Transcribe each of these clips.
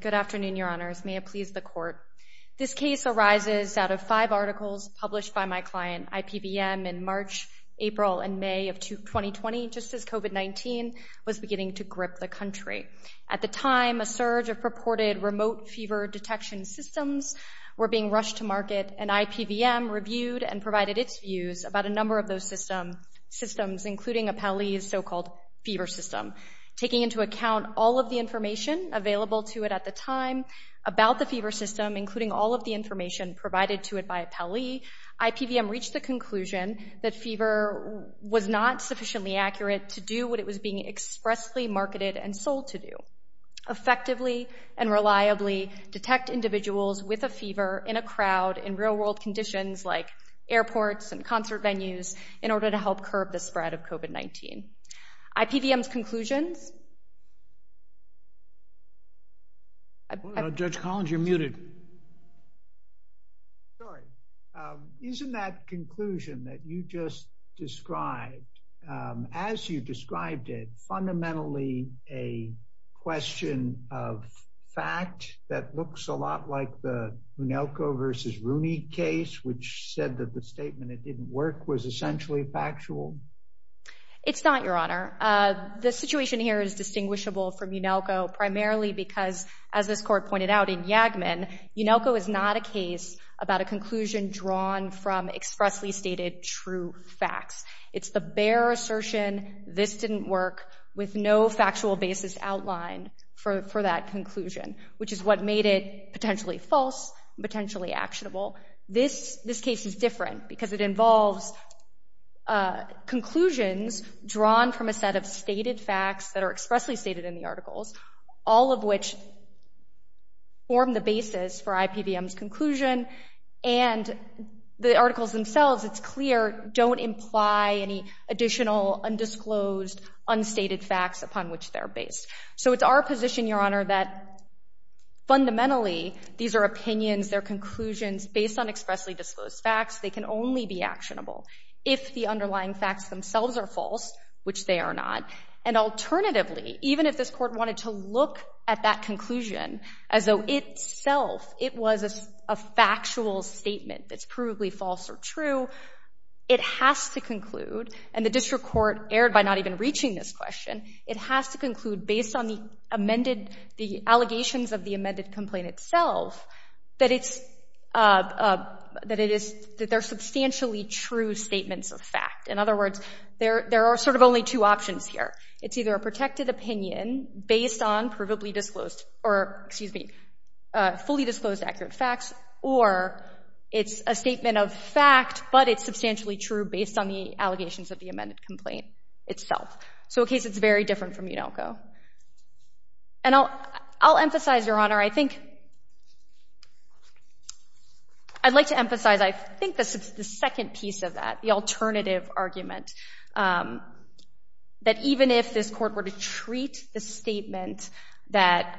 Good afternoon, Your Honors. May it please the Court. This case arises out of five articles published by my client, IPVM, in March, April, and May of 2020, just as COVID-19 was beginning to grip the country. At the time, a surge of purported remote fever detection systems were being rushed to market, and IPVM reviewed and provided its views about a number of those systems, including Appeli's so-called fever system. Taking into account all of the information available to it at the time about the fever system, including all of the information provided to it by Appeli, IPVM reached the conclusion that fever was not sufficiently accurate to do what it was being expressly marketed and sold to do, effectively and reliably detect individuals with a fever in a crowd in real-world conditions, like airports and concert venues, in order to help curb the spread of COVID-19. IPVM's conclusions... Judge Collins, you're muted. Sorry. Isn't that conclusion that you just It's not, Your Honor. The situation here is distinguishable from Unelco, primarily because, as this Court pointed out in Yagman, Unelco is not a case about a conclusion drawn from expressly stated true facts. It's the bare assertion, this didn't work, with no factual basis outlined for that conclusion, which is what made it potentially false, potentially actionable. This case is different, because it involves conclusions drawn from a set of stated facts that are expressly stated in the articles, all of which form the basis for IPVM's conclusion, and the articles themselves, it's clear, don't imply any additional undisclosed unstated facts upon which they're based. So it's our position, Your Honor, that fundamentally, these are opinions, they're conclusions based on expressly disclosed facts, they can only be actionable if the underlying facts themselves are false, which they are not, and alternatively, even if this Court wanted to look at that conclusion as though itself, it was a factual statement that's provably false or true, it has to conclude, and the District Court erred by not even reaching this question, it has to conclude, based on the allegations of the amended complaint itself, that they're substantially true statements of fact. In other words, there are sort of only two options here. It's either a protected opinion based on fully disclosed accurate facts, or it's a statement of fact, but it's substantially true based on the allegations of the amended complaint itself. So in this case, it's very different from UNALCO. And I'll emphasize, Your Honor, I think, I'd like to emphasize, I think this is the second piece of that, the alternative argument, that even if this Court were to treat the statement that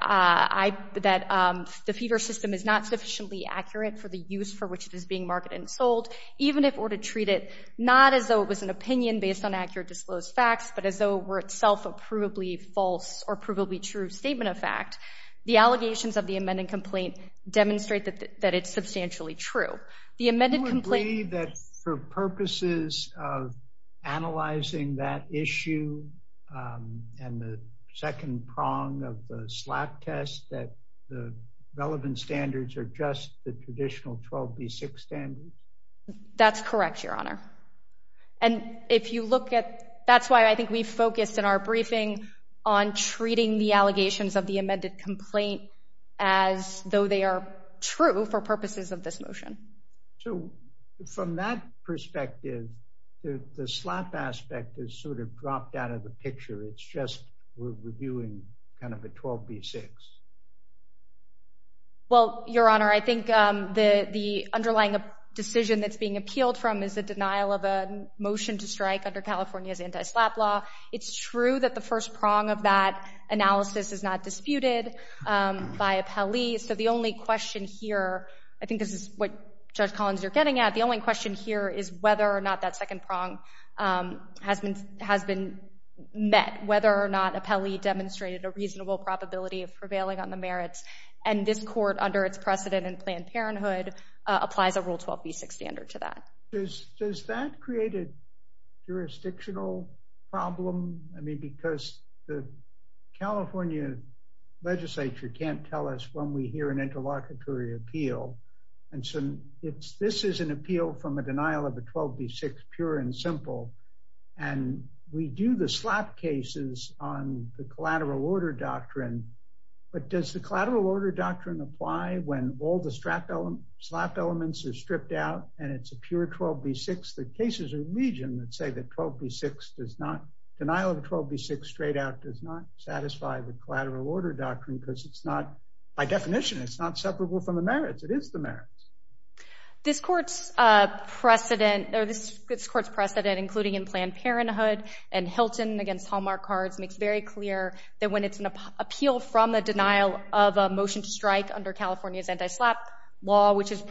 the feeder system is not sufficiently accurate for the use for which it is being an opinion based on accurate disclosed facts, but as though were itself a provably false or provably true statement of fact, the allegations of the amended complaint demonstrate that it's substantially true. The amended complaint... Do you agree that for purposes of analyzing that issue, and the second prong of the SLAPP test, that the relevant standards are just the traditional 12b6 standards? That's correct, Your Honor. And if you look at, that's why I think we focused in our briefing on treating the allegations of the amended complaint as though they are true for purposes of this motion. So from that perspective, the SLAPP aspect is sort of dropped out of the underlying decision that's being appealed from is the denial of a motion to strike under California's anti-SLAPP law. It's true that the first prong of that analysis is not disputed by a Pelley. So the only question here, I think this is what Judge Collins you're getting at, the only question here is whether or not that second prong has been met, whether or not a Pelley demonstrated a reasonable probability of prevailing on the merits. And this Court, under its precedent in Planned Parenthood, applies a Rule 12b6 standard to that. Does that create a jurisdictional problem? I mean, because the California legislature can't tell us when we hear an interlocutory appeal. And so this is an appeal from a denial of a 12b6, pure and simple. And we do the SLAPP cases on the collateral order doctrine apply when all the SLAPP elements are stripped out and it's a pure 12b6. The cases are legion that say that 12b6 does not, denial of a 12b6 straight out does not satisfy the collateral order doctrine because it's not, by definition, it's not separable from the merits. It is the merits. This Court's precedent, or this Court's precedent, including in Planned Parenthood and Hilton against Hallmark Cards, makes very clear that when it's an appeal from a denial of a motion to strike under California's anti-SLAPP law, which is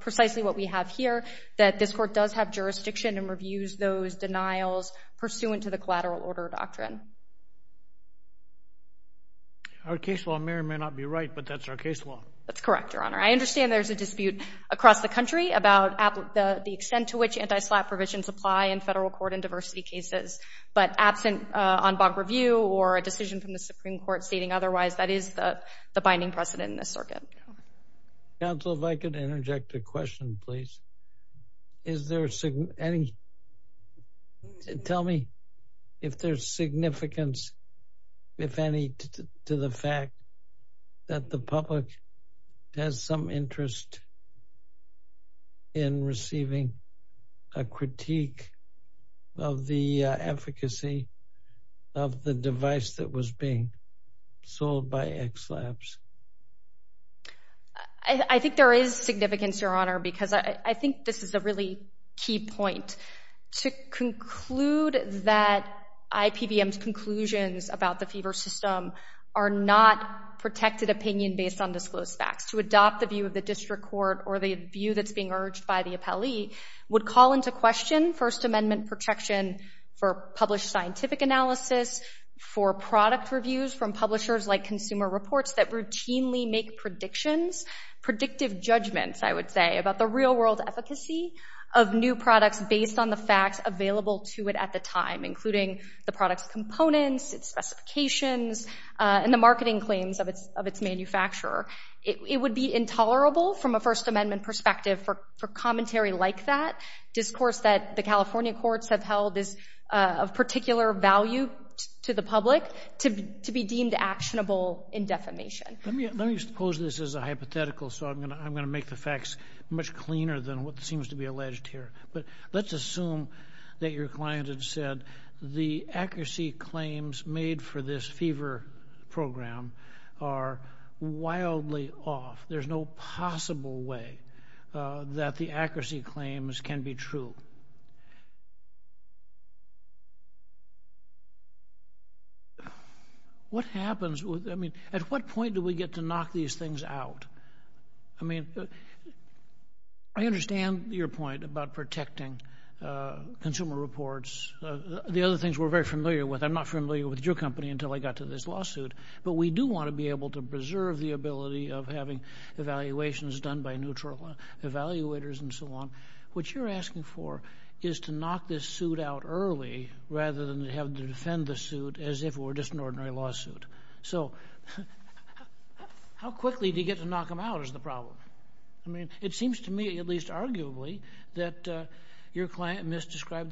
precisely what we have here, that this Court does have jurisdiction and reviews those denials pursuant to the collateral order doctrine. Our case law may or may not be right, but that's our case law. That's correct, Your Honor. I understand there's a dispute across the country about the extent to which anti-SLAPP provisions apply in federal court and diversity cases. But absent en banc review or a decision from the Supreme Court stating otherwise, that is the binding precedent in this circuit. Counsel, if I could interject a question, please. Is there any, tell me if there's significance, if any, to the fact that the public has some interest in receiving a critique of the efficacy of the device that was being sold by XLAPS? I think there is significance, Your Honor, because I think this is a really key point. To conclude that IPVM's conclusions about the fever system are not protected opinion based on disclosed facts, to adopt the view of the district court or the view that's being urged by the appellee would call into question First Scientific analysis for product reviews from publishers like Consumer Reports that routinely make predictions, predictive judgments, I would say, about the real-world efficacy of new products based on the facts available to it at the time, including the product's components, its specifications, and the marketing claims of its manufacturer. It would be intolerable from a First Amendment perspective for commentary like that. Discourse that the California courts have of particular value to the public to be deemed actionable in defamation. Let me suppose this is a hypothetical, so I'm going to make the facts much cleaner than what seems to be alleged here, but let's assume that your client had said the accuracy claims made for this fever program are wildly off. There's no possible way that the accuracy claims can be true. What happens with, I mean, at what point do we get to knock these things out? I mean, I understand your point about protecting Consumer Reports. The other things we're very familiar with, I'm not familiar with your company until I got to this lawsuit, but we do want to be able to preserve the ability of having evaluations done by neutral evaluators and so on. What you're asking for is to knock this suit out early rather than have to defend the suit as if it were just an ordinary lawsuit. So, how quickly do you get to knock them out is the problem? I mean, it seems to me, at least arguably, that your evaluated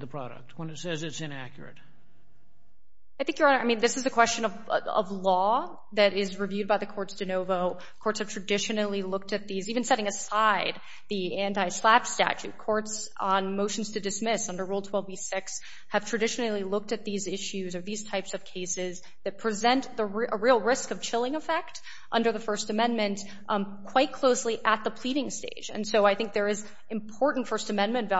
the product when it says it's inaccurate. I think, Your Honor, I mean, this is a question of law that is reviewed by the courts de novo. Courts have traditionally looked at these, even setting aside the anti-SLAPP statute, courts on motions to dismiss under Rule 12b-6 have traditionally looked at these issues or these types of cases that present a real risk of chilling effect under the First Amendment quite closely at the pleading stage, and so I think there is important First Amendment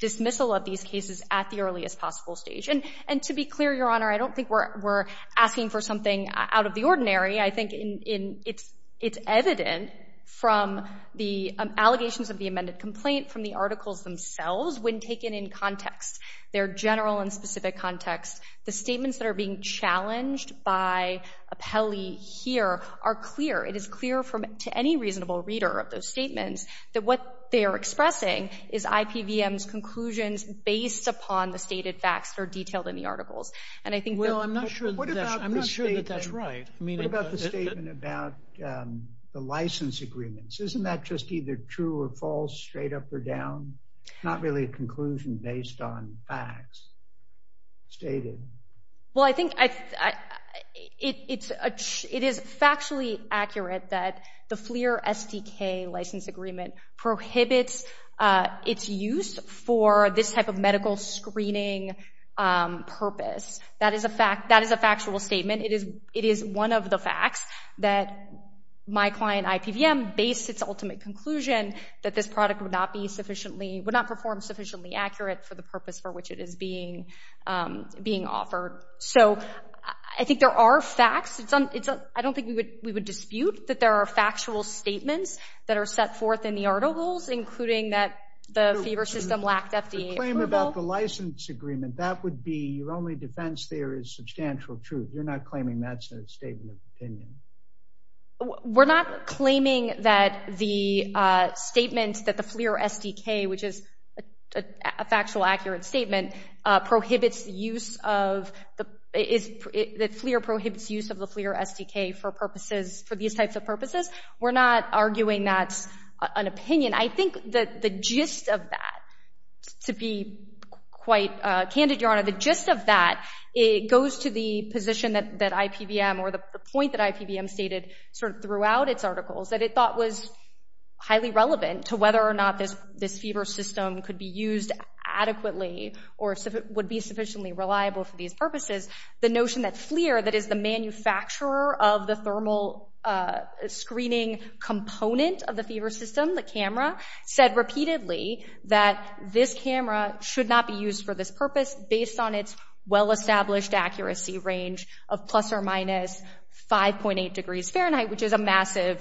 dismissal of these cases at the earliest possible stage. And to be clear, Your Honor, I don't think we're asking for something out of the ordinary. I think it's evident from the allegations of the amended complaint, from the articles themselves, when taken in context, their general and specific context, the statements that are being challenged by Apelli here are clear. It is clear to any reasonable reader of those statements that what they are expressing is IPVM's conclusions based upon the stated facts that are detailed in the articles. And I think... Well, I'm not sure that that's right. What about the statement about the license agreements? Isn't that just either true or false, straight up or down? Not really a conclusion based on facts stated. Well, I think it is factually accurate that the FLIR SDK license agreement prohibits its use for this type of medical screening purpose. That is a factual statement. It is one of the facts that my client, IPVM, based its ultimate conclusion that this product would not be sufficiently, would not perform sufficiently accurate for the purpose for which it is being being offered. So I think there are facts. I don't think we would dispute that there are facts set forth in the articles, including that the fever system lacked FDA approval. The claim about the license agreement, that would be your only defense there is substantial truth. You're not claiming that's a statement of opinion. We're not claiming that the statement that the FLIR SDK, which is a factual, accurate statement, prohibits the use of the, that FLIR prohibits use of the FLIR SDK for purposes, for these types of purposes. We're not arguing that's an opinion. I think that the gist of that, to be quite candid, Your Honor, the gist of that, it goes to the position that IPVM or the point that IPVM stated sort of throughout its articles that it thought was highly relevant to whether or not this fever system could be used adequately or would be sufficiently reliable for these purposes. The notion that FLIR, that is the manufacturer of the thermal screening component of the fever system, the camera, said repeatedly that this camera should not be used for this purpose based on its well-established accuracy range of plus or minus 5.8 degrees Fahrenheit, which is a massive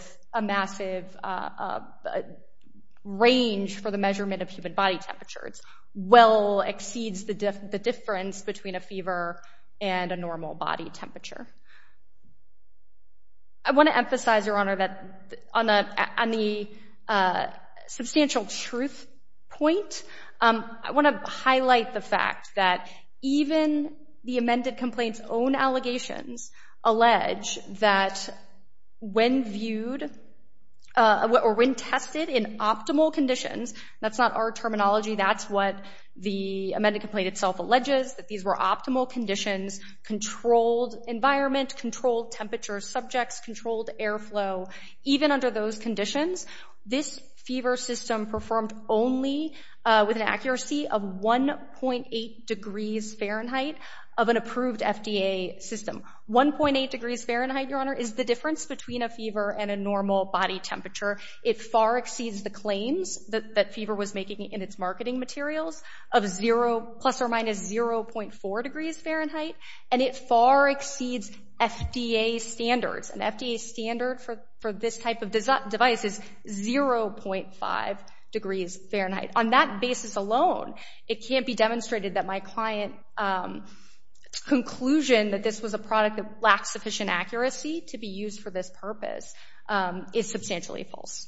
range for the measurement of human body temperature. It's well exceeds the difference between a fever and a normal body temperature. I want to emphasize, Your Honor, that on the substantial truth point, I want to highlight the fact that even the amended complaint's own allegations allege that when viewed or when tested in optimal conditions, that's not our terminology, that's what the amended complaint itself alleges, that these were optimal conditions, controlled environment, controlled temperature subjects, controlled airflow. Even under those conditions, this fever system performed only with an accuracy of 1.8 degrees Fahrenheit of an approved FDA system. 1.8 degrees Fahrenheit, Your Honor, is the difference between a fever and a normal body temperature. It far exceeds the claims that fever was making in its marketing materials of plus or minus 0.4 degrees Fahrenheit, and it far exceeds FDA standards. An FDA standard for this type of device is 0.5 degrees Fahrenheit. On that basis alone, it can't be demonstrated that my client's conclusion that this was a product that lacked sufficient accuracy to be used for this purpose is substantially false.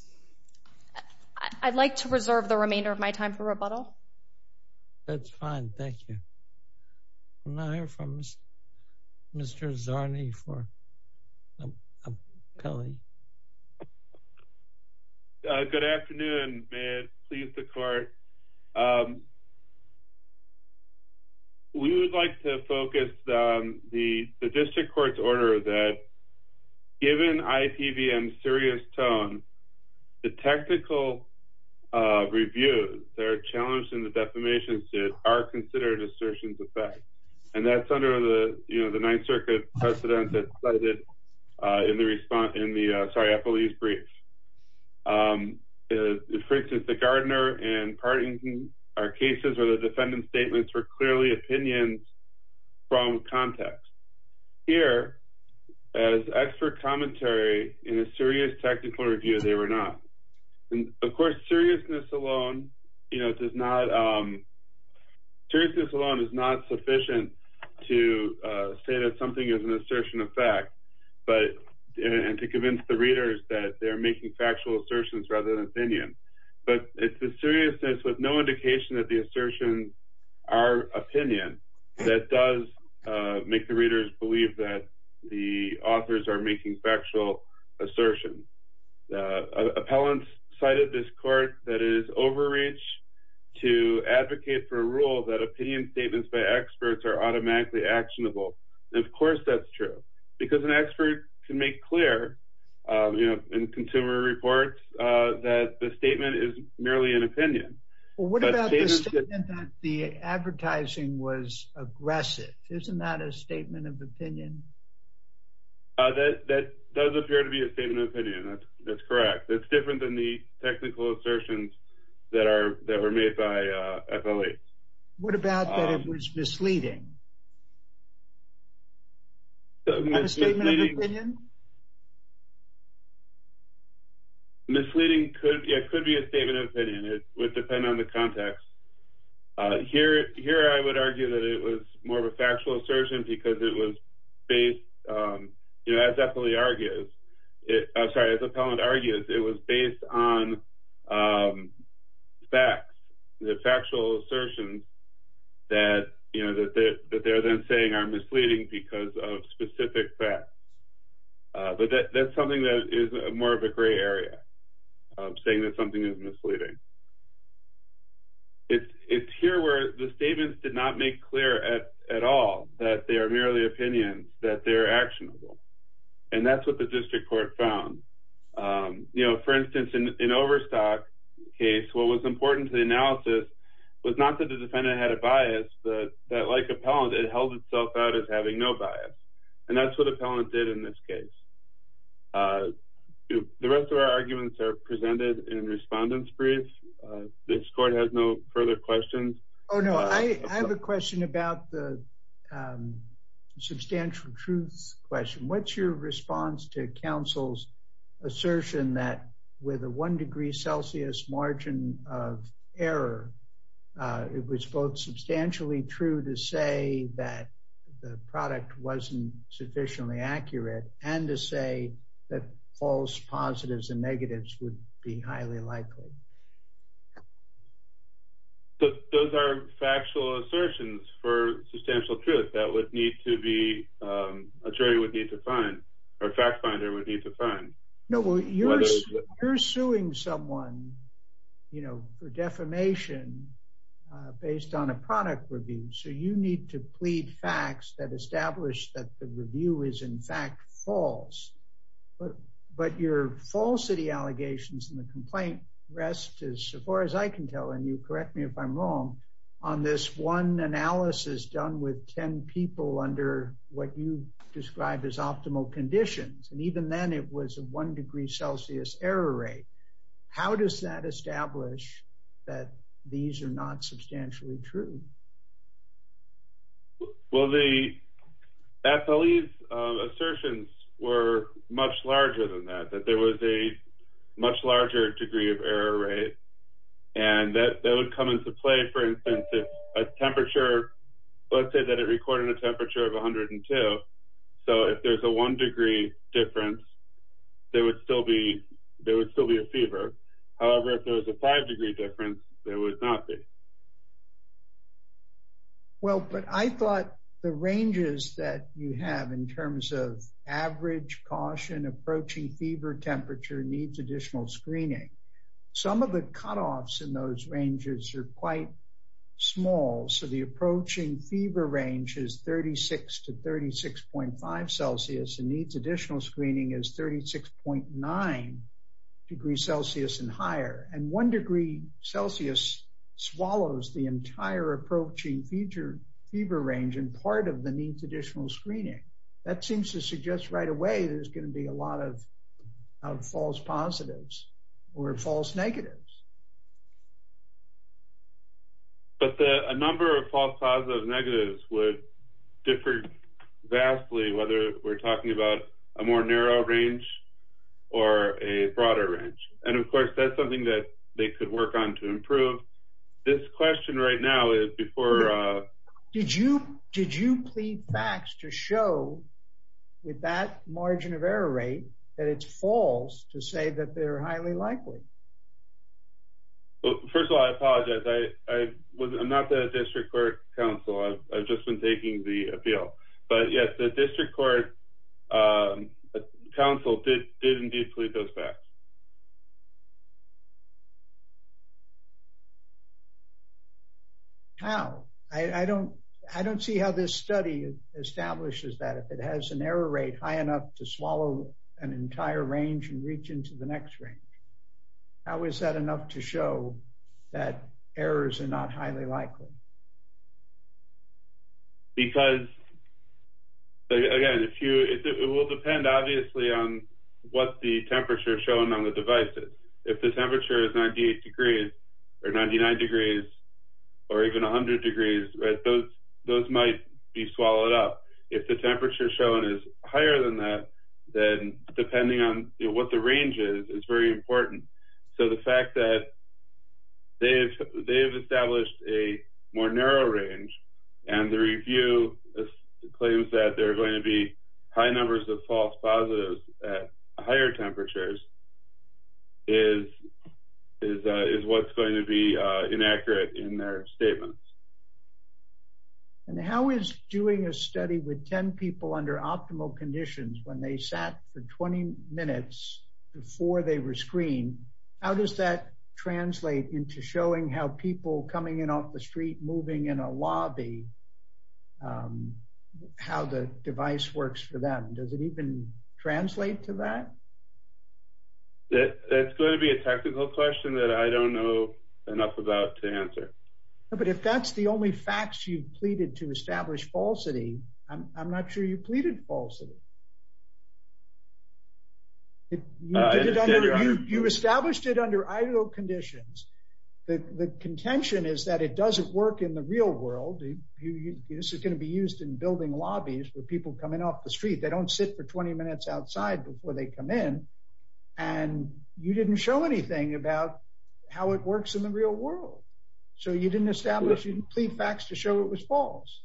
I'd like to reserve the remainder of my time for rebuttal. That's fine. Thank you. I'm going to hear from Mr. Zarny for a penalty. Good afternoon. May it please the Court. We would like to focus the district court's order that given IPVM's serious tone, the technical reviews that are challenged in the defamation suit are considered assertions of fact. And that's under the, you know, the Ninth Circuit precedent that's cited in the response, in the, sorry, Eppley's brief. For instance, the Gardner and Partington are cases where the defendant's statements were clearly opinions from context. Here, as expert commentary in a serious technical review, they were not. And, of course, seriousness alone, you know, does not, seriousness alone is not sufficient to say that something is an assertion of fact, but, and to convince the readers that they're making factual assertions rather than opinions. But it's the seriousness with no indication that the assertions are opinions that does make the readers believe that the authors are making factual assertions. Appellants cited this court that it is overreach to advocate for a rule that opinion statements by experts are automatically actionable. And, of course, that's true, because an expert can make clear, you know, in consumer reports that the statement is merely an opinion. Well, what about the statement that the advertising was aggressive? Isn't that a statement of opinion? That does appear to be a statement of opinion. That's correct. It's different than the technical assertions that were made by Eppley. What about that it was misleading? A statement of opinion? Misleading could be a statement of opinion. It would depend on the context. Here I would argue that it was more of a factual assertion because it was based, you know, as Eppley argues, I'm sorry, as Appellant argues, it was based on facts, the factual assertions that, you know, that they're then saying are misleading because of specific facts. But that's something that is more of a gray area, saying that something is misleading. It's here where the statements did not make clear at all that they are merely opinions, that they are actionable. And that's what the district court found. You know, for instance, in Overstock's case, what was important to the analysis was not that the defendant had a bias, but that, like Appellant, it held itself out as having no bias. And that's what Appellant did in this case. The rest of our arguments are presented in respondent's briefs. This court has no further questions. Oh, no, I have a question about the substantial truths question. What's your response to counsel's assertion that with a one degree Celsius margin of error, it was both substantially true to say that the product wasn't sufficiently accurate and to say that false positives and negatives would be highly likely? Those are factual assertions for substantial truth that would need to be, a jury would need to find, or a fact finder would need to find. No, you're suing someone, you know, for defamation based on a product review. So you need to plead facts that establish that the review is in fact false. But your falsity allegations in the complaint rest, as far as I can tell, and you correct me if I'm wrong, on this one analysis done with 10 people under what you described as optimal conditions. And even then it was a one degree Celsius error rate. How does that establish that these are not substantially true? Well, the FLE's assertions were much larger than that, that there was a much larger degree of error rate. And that would come into play, for instance, if a temperature, let's say that it recorded a temperature of 102. So if there's a one degree difference, there would still be a fever. However, if there's a five degree difference, there would not be. Well, but I thought the ranges that you have in terms of average caution, approaching fever temperature needs additional screening. Some of the cutoffs in those ranges are quite small. So the approaching fever range is 36 to 36.5 Celsius and needs additional screening is 36.9 degrees Celsius and higher. And one degree Celsius swallows the entire approaching fever range and part of the needs additional screening. That seems to suggest right away there's going to be a lot of false positives or false negatives. But a number of false positives and negatives would differ vastly, whether we're talking about a more narrow range or a broader range. And, of course, that's something that they could work on to improve. This question right now is before… Did you plead facts to show with that margin of error rate that it's false to say that they're highly likely? Well, first of all, I apologize. I'm not the district court counsel. I've just been taking the appeal. But, yes, the district court counsel did indeed plead those facts. How? I don't see how this study establishes that. If it has an error rate high enough to swallow an entire range and reach into the next range, how is that enough to show that errors are not highly likely? Because, again, it will depend, obviously, on what the temperature shown on the device is. If the temperature is 98 degrees or 99 degrees or even 100 degrees, those might be swallowed up. If the temperature shown is higher than that, then depending on what the range is, it's very important. So the fact that they have established a more narrow range and the review claims that there are going to be high numbers of false positives at higher temperatures is what's going to be inaccurate in their statements. And how is doing a study with 10 people under optimal conditions when they sat for 20 minutes before they were screened, how does that translate into showing how people coming in off the street, moving in a lobby, how the device works for them? Does it even translate to that? That's going to be a technical question that I don't know enough about to answer. But if that's the only facts you've pleaded to establish falsity, I'm not sure you pleaded falsity. You established it under ideal conditions. The contention is that it doesn't work in the real world. This is going to be used in building lobbies for people coming off the street. They don't sit for 20 minutes outside before they come in. And you didn't show anything about how it works in the real world. So you didn't establish, you didn't plead facts to show it was false.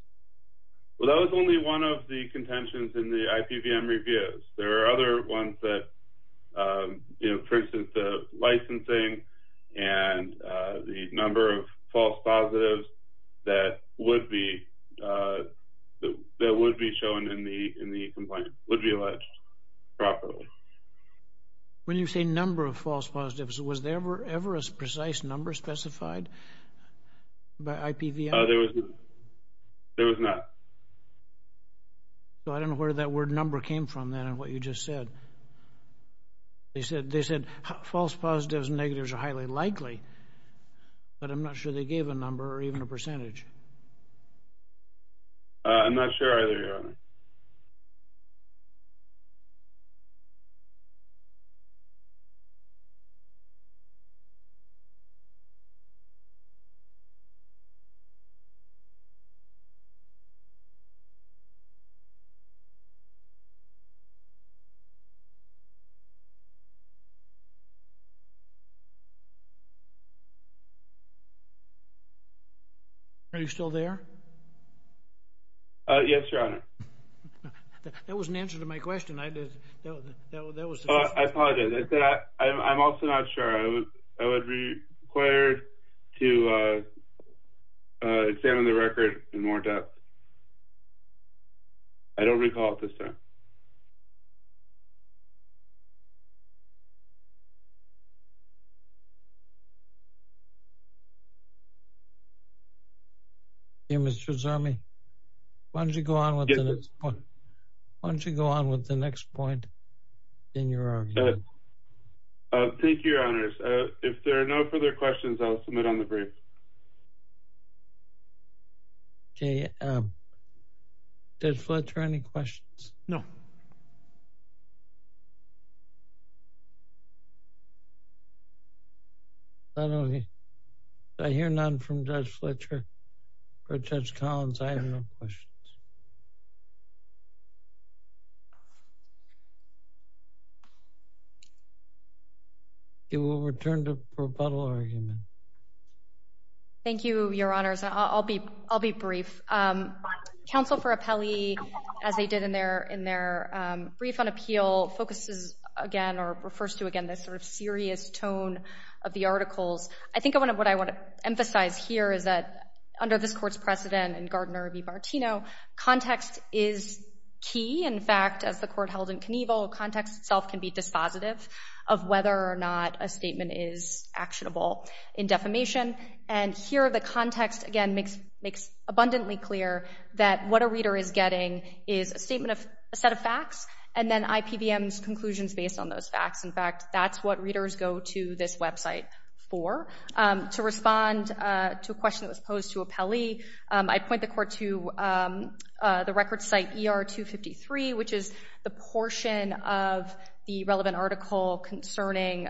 Well, that was only one of the contentions in the IPVM reviews. There are other ones that, for instance, the licensing and the number of false positives that would be shown in the complaint would be alleged properly. When you say number of false positives, was there ever a precise number specified by IPVM? There was not. So I don't know where that word number came from then and what you just said. They said false positives and negatives are highly likely, but I'm not sure they gave a number or even a percentage. I'm not sure either, Your Honor. Are you still there? Yes, Your Honor. That was an answer to my question. I apologize. I'm also not sure. I would be required to examine the record in more depth. I don't recall at this time. Mr. Zami, why don't you go on with the next point in your argument? Thank you, Your Honors. If there are no further questions, I'll submit on the brief. Did Fletcher have any questions? No. I hear none from Judge Fletcher or Judge Collins. I have no questions. We will return to the rebuttal argument. Thank you, Your Honors. I'll be brief. Counsel for Appellee, as they did in their brief on appeal, focuses again or refers to again this sort of serious tone of the articles. I think what I want to emphasize here is that under this Court's precedent in Gardner v. Bartino, context is key. In fact, as the Court held in Knievel, context itself can be dispositive of whether or not a statement is actionable in defamation. And here, the context again makes abundantly clear that what a reader is getting is a statement of a set of facts and then IPVM's conclusions based on those facts. In fact, that's what readers go to this website for. To respond to a question that was posed to Appellee, I point the Court to the record site ER 253, which is the portion of the relevant article concerning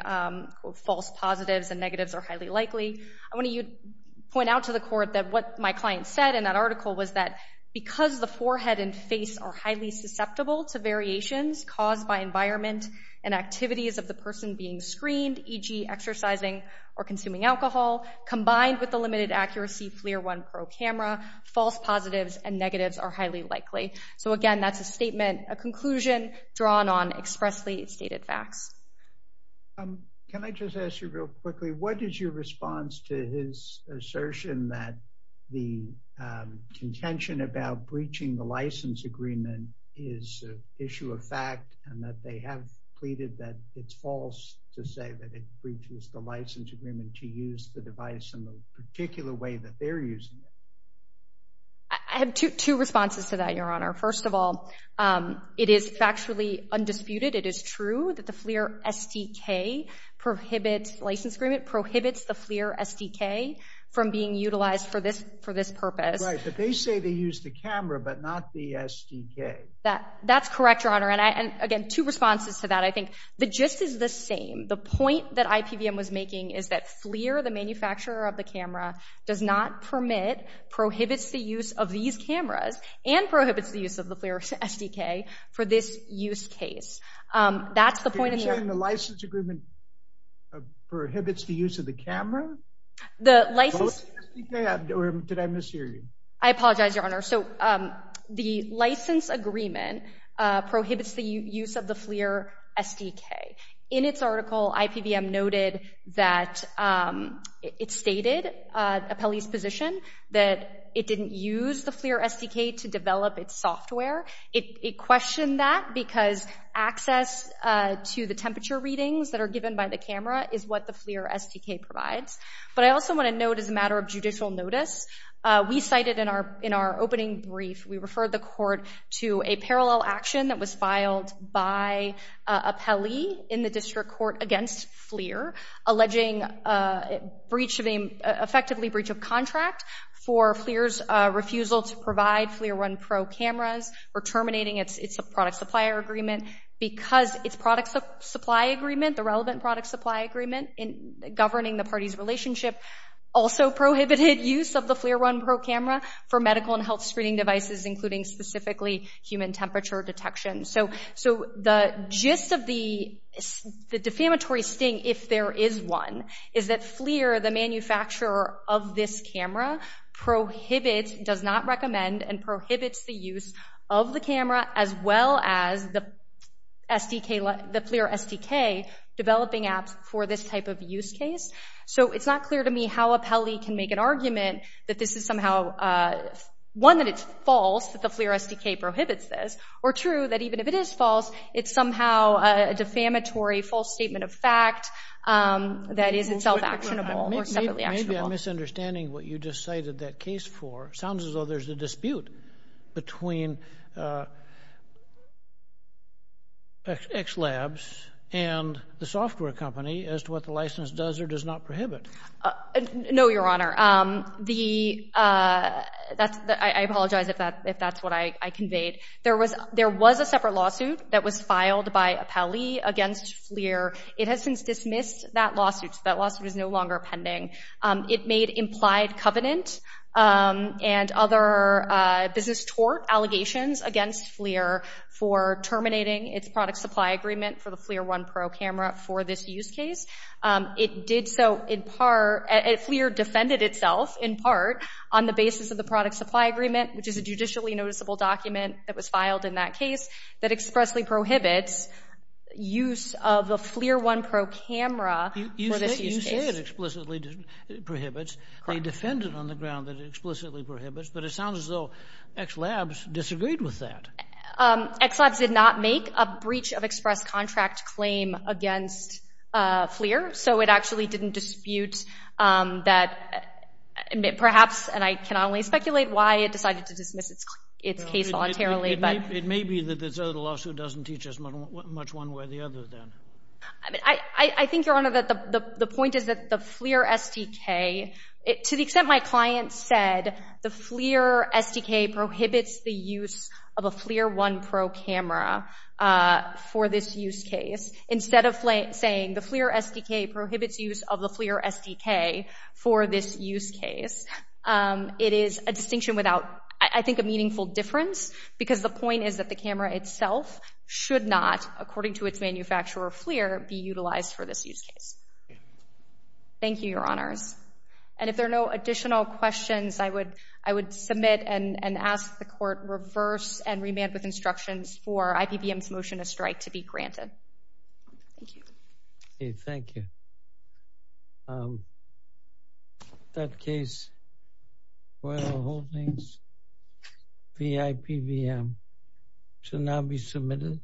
false positives and negatives are highly likely. I want to point out to the Court that what my client said in that article was that because the forehead and face are highly susceptible to variations caused by environment and activities of the person being screened, e.g. exercising or consuming alcohol, combined with the limited accuracy FLIR 1 Pro camera, false positives and negatives are highly likely. So, again, that's a statement, a conclusion, drawn on expressly stated facts. Can I just ask you real quickly, what is your response to his assertion that the contention about breaching the license agreement is an issue of fact and that they have pleaded that it's false to say that it breaches the license agreement to use the device in the particular way that they're using it? I have two responses to that, Your Honor. First of all, it is factually undisputed. It is true that the FLIR SDK prohibits license agreement, prohibits the FLIR SDK from being utilized for this purpose. Right, but they say they use the camera but not the SDK. That's correct, Your Honor, and, again, two responses to that. I think the gist is the same. The point that IPVM was making is that FLIR, the manufacturer of the camera, does not permit, prohibits the use of these cameras and prohibits the use of the FLIR SDK for this use case. That's the point of the argument. Are you saying the license agreement prohibits the use of the camera? Both the SDK or did I mishear you? I apologize, Your Honor. So the license agreement prohibits the use of the FLIR SDK. In its article, IPVM noted that it stated, a police position, that it didn't use the FLIR SDK to develop its software. It questioned that because access to the temperature readings that are given by the camera is what the FLIR SDK provides. But I also want to note as a matter of judicial notice, we cited in our opening brief, we referred the court to a parallel action that was filed by an appellee in the district court against FLIR, or terminating its product supplier agreement. Because its product supply agreement, the relevant product supply agreement governing the party's relationship, also prohibited use of the FLIR One Pro camera for medical and health screening devices, including specifically human temperature detection. So the gist of the defamatory sting, if there is one, is that FLIR, the manufacturer of this camera, prohibits, does not recommend, and prohibits the use of the camera, as well as the SDK, the FLIR SDK, developing apps for this type of use case. So it's not clear to me how appellee can make an argument that this is somehow, one, that it's false, that the FLIR SDK prohibits this, or true, that even if it is false, it's somehow a defamatory, false statement of fact that is itself actionable or separately actionable. Maybe I'm misunderstanding what you just cited that case for. It sounds as though there's a dispute between X Labs and the software company as to what the license does or does not prohibit. No, Your Honor. I apologize if that's what I conveyed. There was a separate lawsuit that was filed by appellee against FLIR. It has since dismissed that lawsuit. That lawsuit is no longer pending. It made implied covenant and other business tort allegations against FLIR for terminating its product supply agreement for the FLIR One Pro camera for this use case. It did so in part, FLIR defended itself, in part, on the basis of the product supply agreement, which is a judicially noticeable document that was filed in that case, that expressly prohibits use of the FLIR One Pro camera for this use case. You say it explicitly prohibits. They defend it on the ground that it explicitly prohibits, but it sounds as though X Labs disagreed with that. X Labs did not make a breach of express contract claim against FLIR, so it actually didn't dispute that, perhaps, and I can only speculate why it decided to dismiss its case voluntarily. It may be that this other lawsuit doesn't teach us much one way or the other, then. I think, Your Honor, the point is that the FLIR SDK, to the extent my client said the FLIR SDK prohibits the use of a FLIR One Pro camera for this use case, instead of saying the FLIR SDK prohibits use of the FLIR SDK for this use case, it is a distinction without, I think, a meaningful difference because the point is that the camera itself should not, according to its manufacturer, FLIR, be utilized for this use case. Thank you, Your Honors. And if there are no additional questions, I would submit and ask the court reverse and remand with instructions for IPVM's motion to strike to be granted. Thank you. Okay, thank you. That case for the holdings, the IPVM, shall now be submitted.